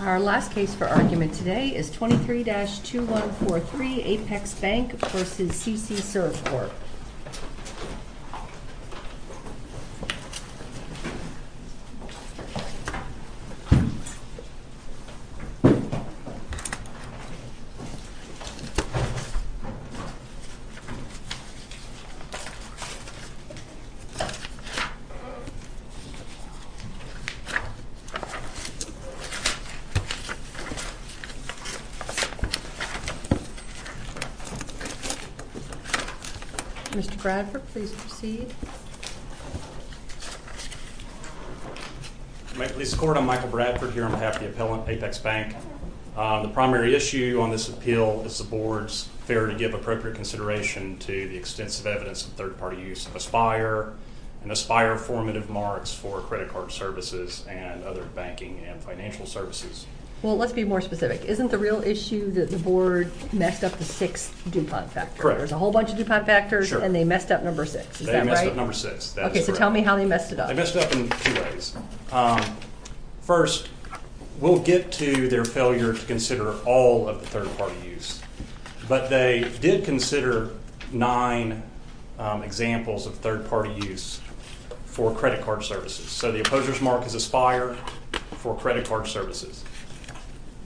Our last case for argument today is 23-2143 Apex Bank v. CC Serve Corp. I'm Michael Bradford here on behalf of the appellant Apex Bank. The primary issue on this appeal is the board's failure to give appropriate consideration to the extensive evidence of third-party use of Aspire and Aspire formative marks for credit card services and other banking and financial services. Well, let's be more specific, isn't the real issue that the board messed up the sixth DuPont factor? Correct. There's a whole bunch of DuPont factors and they messed up number six, is that right? They messed up number six. That's correct. Okay, so tell me how they messed it up. They messed it up in two ways. First, we'll get to their failure to consider all of the third-party use, but they did consider nine examples of third-party use for credit card services. So the opposer's mark is Aspire for credit card services.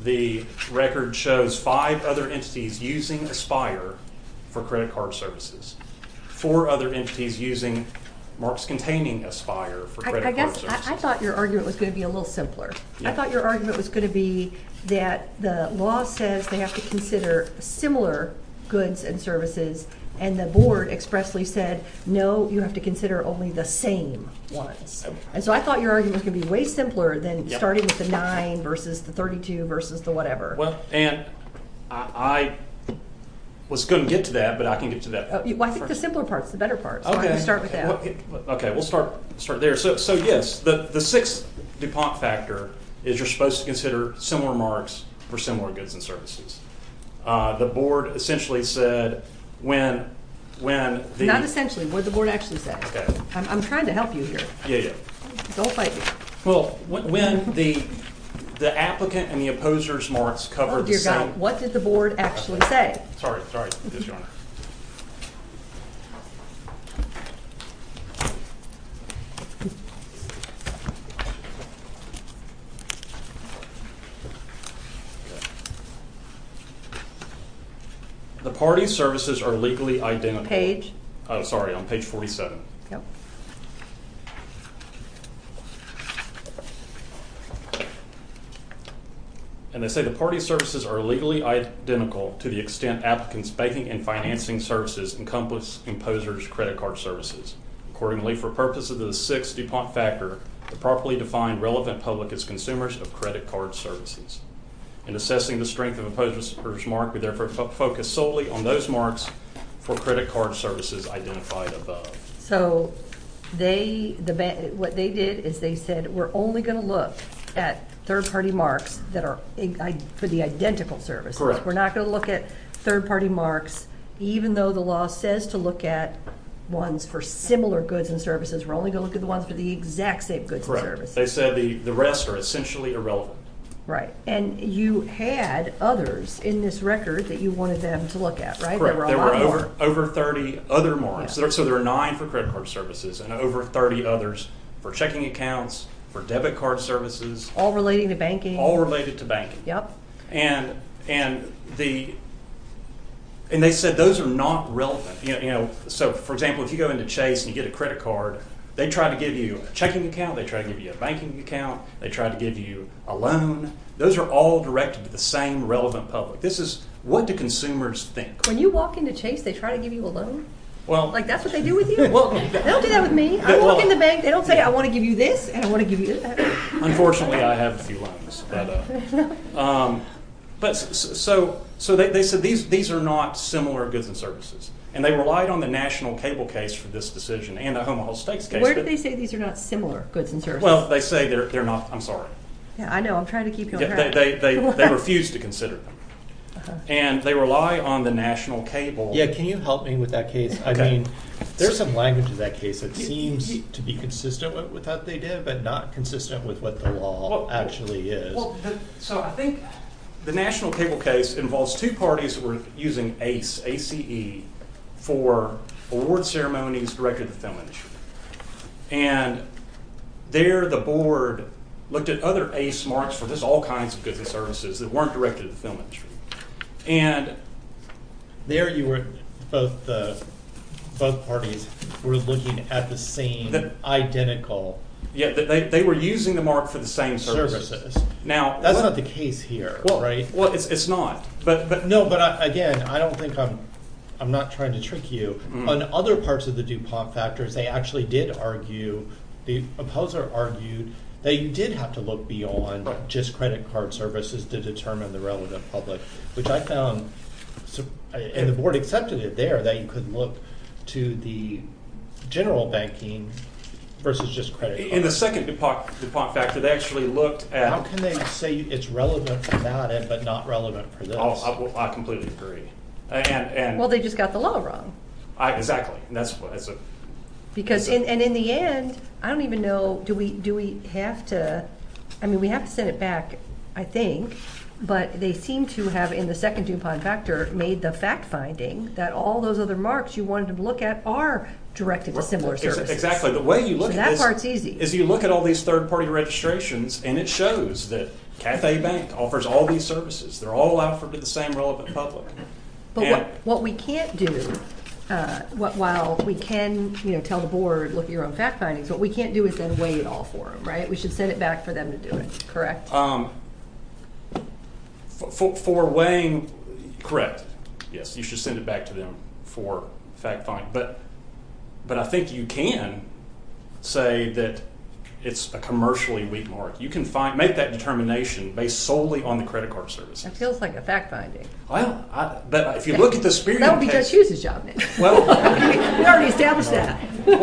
The record shows five other entities using Aspire for credit card services. Four other entities using marks containing Aspire for credit card services. I thought your argument was going to be a little simpler. I thought your argument was going to be that the law says they have to consider similar goods and services and the board expressly said, no, you have to consider only the same ones. And so I thought your argument was going to be way simpler than starting with the nine versus the 32 versus the whatever. Well, Ann, I was going to get to that, but I can't get to that part. Well, I think the simpler part is the better part, so why don't you start with that? Okay. We'll start there. So yes, the sixth DuPont factor is you're supposed to consider similar marks for similar goods and services. The board essentially said, when the... Not essentially, what the board actually said. I'm trying to help you here. Don't bite me. Well, when the applicant and the opposer's marks covered the same... What did the board actually say? Sorry. Yes, Your Honor. The party's services are legally identical. Page? Oh, sorry. On page 47. Okay. And they say the party's services are legally identical to the extent applicants' banking and financing services encompass opposer's credit card services. Accordingly, for purposes of the sixth DuPont factor, the properly defined relevant public is consumers of credit card services. In assessing the strength of opposer's mark, we therefore focus solely on those marks for credit card services identified above. So, what they did is they said, we're only going to look at third-party marks for the identical services. Correct. We're not going to look at third-party marks, even though the law says to look at ones for similar goods and services, we're only going to look at the ones for the exact same goods and services. Correct. They said the rest are essentially irrelevant. Right. And you had others in this record that you wanted them to look at, right? There were a lot more. Correct. There were over 30 other marks. So, there are nine for credit card services and over 30 others for checking accounts, for debit card services. All relating to banking. All related to banking. And they said those are not relevant. So for example, if you go into Chase and you get a credit card, they try to give you a checking account, they try to give you a banking account, they try to give you a loan. Those are all directed to the same relevant public. This is, what do consumers think? When you walk into Chase, they try to give you a loan? Like, that's what they do with you? They don't do that with me. I walk in the bank, they don't say, I want to give you this and I want to give you that. Unfortunately, I have a few loans, but so they said these are not similar goods and And they relied on the national cable case for this decision and the homeowners' stakes case. Where did they say these are not similar goods and services? Well, they say they're not. I'm sorry. Yeah, I know. I'm trying to keep you on track. They refuse to consider them. And they rely on the national cable. Yeah, can you help me with that case? I mean, there's some language in that case that seems to be consistent with what they did, but not consistent with what the law actually is. So I think the national cable case involves two parties that were using ACE, A-C-E, for award ceremonies directed to the film industry. And there the board looked at other ACE marks for this, all kinds of goods and services that weren't directed to the film industry. And there you were, both parties were looking at the same, identical. Yeah, they were using the mark for the same services. Now, that's not the case here, right? Well, it's not. No, but again, I don't think I'm, I'm not trying to trick you. On other parts of the DuPont factors, they actually did argue, the opposer argued that they did have to look beyond just credit card services to determine the relevant public, which I found, and the board accepted it there, that you could look to the general banking versus just credit card. In the second DuPont factor, they actually looked at- How can they say it's relevant for that, but not relevant for this? Oh, I completely agree. Well, they just got the law wrong. Exactly. Because, and in the end, I don't even know, do we, do we have to, I mean, we have to send it back, I think, but they seem to have, in the second DuPont factor, made the fact finding that all those other marks you wanted to look at are directed to similar services. Exactly. The way you look at this- So that part's easy. Is you look at all these third party registrations, and it shows that Cathay Bank offers all these services. They're all offered to the same relevant public. But what we can't do, while we can tell the board, look at your own fact findings, what we can't do is then weigh it all for them, right? We should send it back for them to do it, correct? For weighing, correct, yes, you should send it back to them for fact finding. But I think you can say that it's a commercially weak mark. You can make that determination based solely on the credit card services. That feels like a fact finding. But if you look at the Spiridon case- That would be Judge Hughes' job, Nick. We already established that. You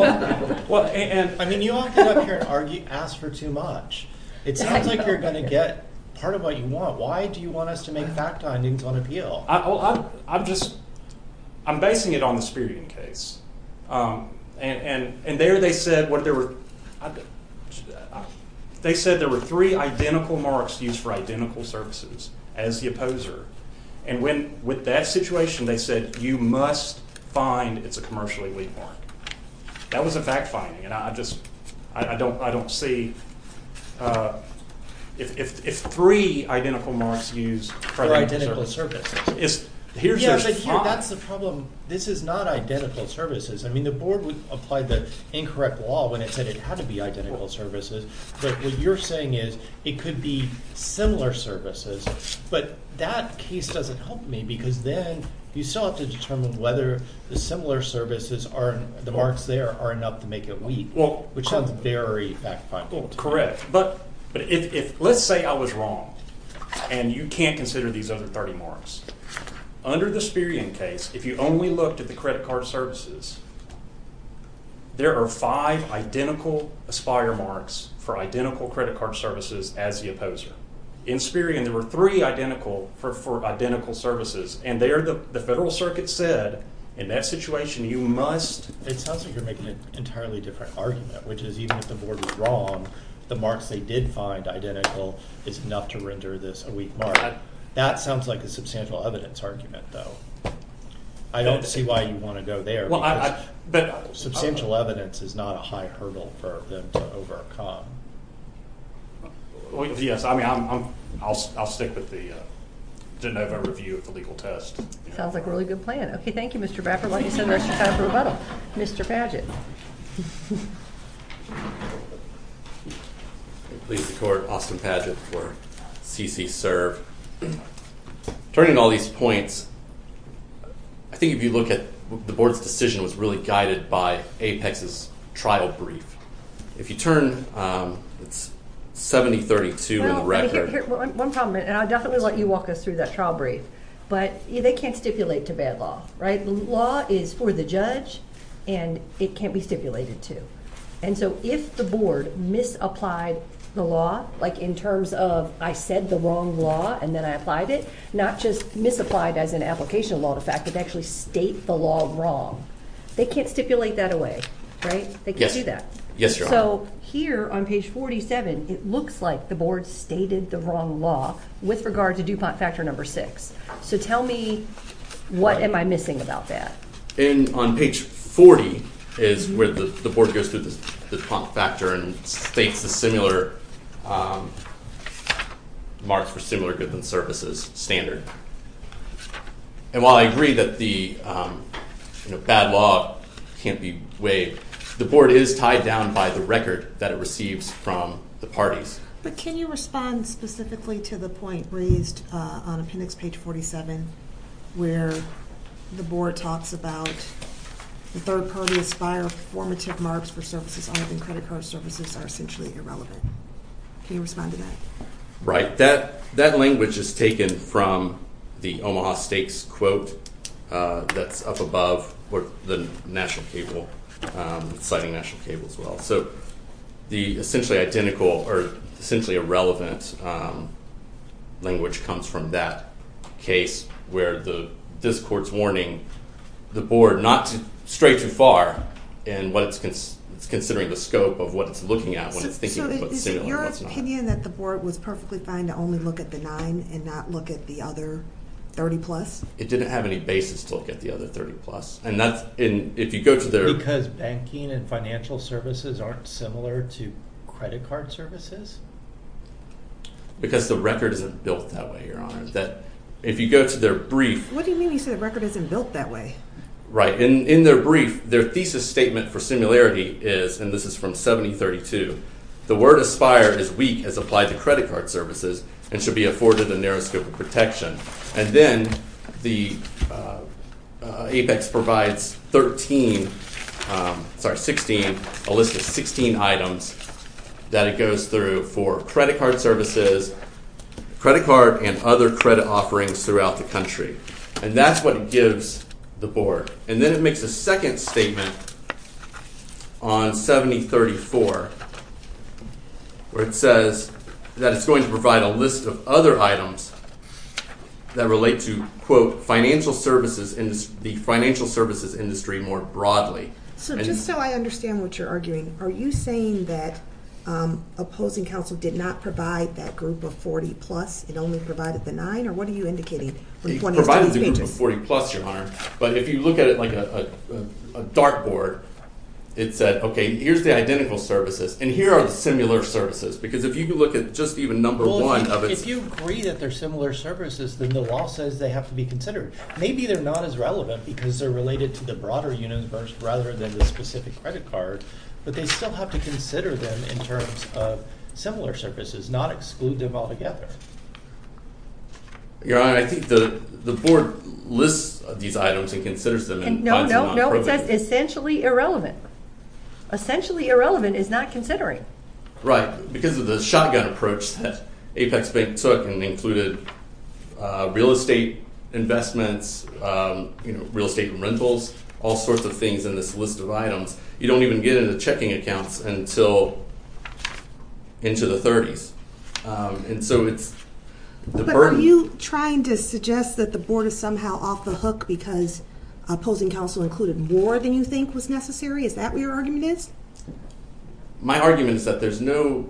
all get up here and ask for too much. It sounds like you're going to get part of what you want. Why do you want us to make fact findings on appeal? I'm basing it on the Spiridon case. They said there were three identical marks used for identical services as the opposer. And with that situation, they said you must find it's a commercially weak mark. That was a fact finding. And I just don't see- If three identical marks used- For identical services. Yeah, but here, that's the problem. This is not identical services. I mean, the board would apply the incorrect law when it said it had to be identical services. But what you're saying is it could be similar services. But that case doesn't help me because then you still have to determine whether the similar services are- The marks there are enough to make it weak. Which sounds very fact finding to me. Correct. But if- Let's say I was wrong. And you can't consider these other 30 marks. Under the Spiridon case, if you only looked at the credit card services, there are five identical aspire marks for identical credit card services as the opposer. In Spiridon, there were three identical for identical services. And there, the Federal Circuit said, in that situation, you must- It sounds like you're making an entirely different argument. Which is, even if the board was wrong, the marks they did find identical is enough to render this a weak mark. That sounds like a substantial evidence argument, though. I don't see why you want to go there. Substantial evidence is not a high hurdle for them to overcome. Yes, I mean, I'll stick with the de novo review of the legal test. Sounds like a really good plan. Okay, thank you, Mr. Baffert. Why don't you send the rest of your time for rebuttal? Mr. Padgett. Please support Austin Padgett for C.C. Serve. Turning to all these points, I think if you look at- The board's decision was really guided by Apex's trial brief. If you turn It's 70-32 in the record. One comment. I'll definitely let you walk us through that trial brief. They can't stipulate to bad law. The law is for the judge and it can't be stipulated to. And so, if the board misapplied the law in terms of, I said the wrong law and then I applied it, not just misapplied as an application law in fact, but actually state the law wrong, they can't stipulate that away. They can't do that. So, here on page 47 it looks like the board stated the wrong law with regard to DuPont factor number 6. So tell me what am I missing about that? On page 40 is where the board goes through the DuPont factor and states the similar marks for similar goods and services standard. And while I agree that the bad law can't be waived, the board is tied down by the record that it receives from the parties. But can you respond specifically to the point raised on appendix page 47 where the board talks about the third party aspire formative marks for services other than credit card services are essentially irrelevant. Can you respond to that? Right. That language is taken from the Omaha stakes quote that's up above the National Cable, citing National Cable as well. So, the essentially identical or essentially irrelevant language comes from that case where this court's warning the board not to stray too far in what it's considering the scope of what it's looking at when it's thinking about similar. Is it your opinion that the board was perfectly fine to only look at the 9 and not look at the other 30 plus? It didn't have any basis to look at the other 30 plus. Because banking and financial services aren't similar to credit card services? the record isn't built that way, Your Honor. If you go to their brief... What do you mean when you say the record isn't built that way? Right. In their brief, their thesis statement for similarity is and this is from 7032 the word aspire is weak as applied to credit card services and should be afforded a narrow scope of protection. And then the Apex provides 16 a list of 16 items that it goes through for credit card services credit card and other credit offerings throughout the country. And that's what it gives the board. And then it makes a second statement on 7034 where it says that it's going to provide a list of other items that relate to the financial services industry more broadly. So just so I understand what you're arguing are you saying that opposing counsel did not provide that group of 40 plus and only provided the 9? Or what are you indicating? It provided the group of 40 plus, Your Honor. But if you look at it like a dartboard it said, okay, here's the identical services and here are the similar services. Because if you look at just even number one If you agree that they're similar services then the law says they have to be considered. Maybe they're not as relevant because they're related to the broader universe rather than the specific credit card. But they still have to consider them in terms of similar services, not exclude them altogether. Your Honor, I think the board lists these items and considers them and finds them not appropriate. No, no, no. It says essentially irrelevant. Essentially irrelevant is not considering. Right. Because of the shotgun approach that Apex took and included real estate investments real estate rentals all sorts of things in this list of items. You don't even get into checking accounts until into the 30s. And so it's the burden. But are you trying to suggest that the board is somehow off the hook because opposing counsel included more than you think was necessary? Is that what your argument is? My argument is that there's no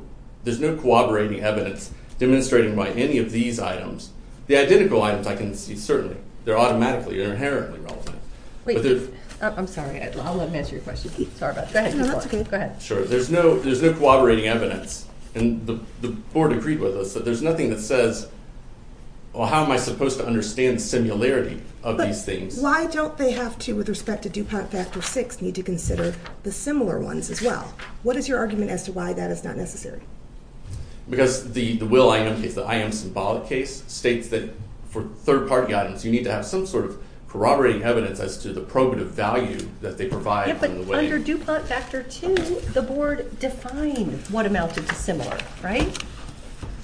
corroborating evidence demonstrating by any of these items. The identical items I can see certainly. They're automatically or inherently relevant. Wait. I'm sorry. I'll let him answer your question. Sorry about that. No, that's okay. Go ahead. Sure. There's no corroborating evidence. And the board agreed with us that there's nothing that says well, how am I supposed to understand similarity of these things? Why don't they have to with respect to DuPont Factor VI need to consider the similar ones as well? What is your argument as to why that is not necessary? Because the Will I Am case, the I Am Symbolic case, states that for third-party items you need to have some sort of corroborating evidence as to the probative value that they provide in the way... Yeah, but under DuPont Factor II the board defined what amounted to similar, right?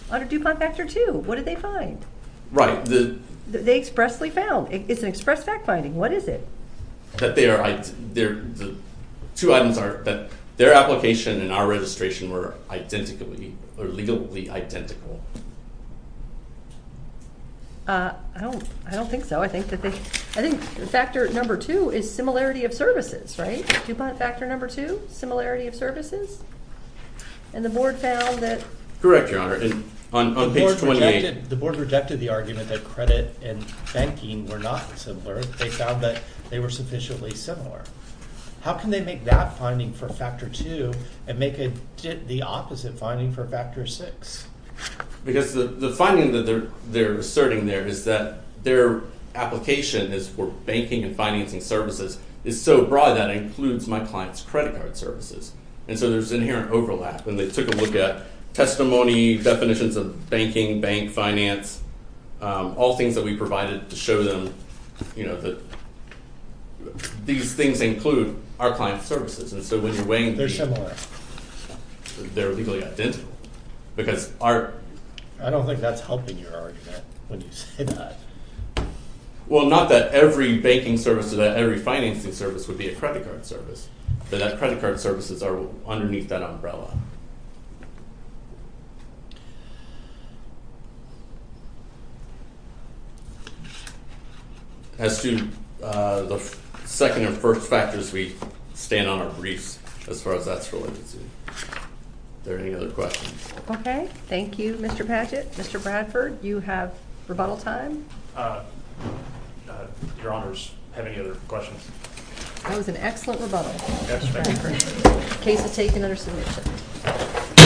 Under DuPont Factor II, what did they find? Right. The... They expressly found. It's an express fact-finding. What is it? That there are two items that their application and our registration were identically or legally identical. I don't think so. I think that they... I think Factor II is similarity of services, right? DuPont Factor II, similarity of services? And the board found that... Correct, Your Honor. On page 28... The board rejected the argument that credit and banking were not similar. They found that they were sufficiently similar. How can they make that finding for Factor II and make the opposite finding for Factor VI? Because the finding that they're asserting there is that their application is for banking and financing services is so broad that it includes my client's credit card services. And so there's inherent overlap. And they took a look at testimony, definitions of banking, bank, finance, all things that we provided to show them, you know, that these things include our client's services. And so when you're weighing... They're similar. They're legally identical. Because our... I don't think that's helping your argument when you say that. Well, not that every banking service or that every financing service would be a credit card service. But that credit card services are underneath that umbrella. As to the second and first factors, we stand on our briefs as far as that's related to. Are there any other questions? Okay. Thank you, Mr. Padgett. Mr. Bradford, you have rebuttal time. Your Honors, have any other questions? That was an excellent rebuttal. Case is taken under submission.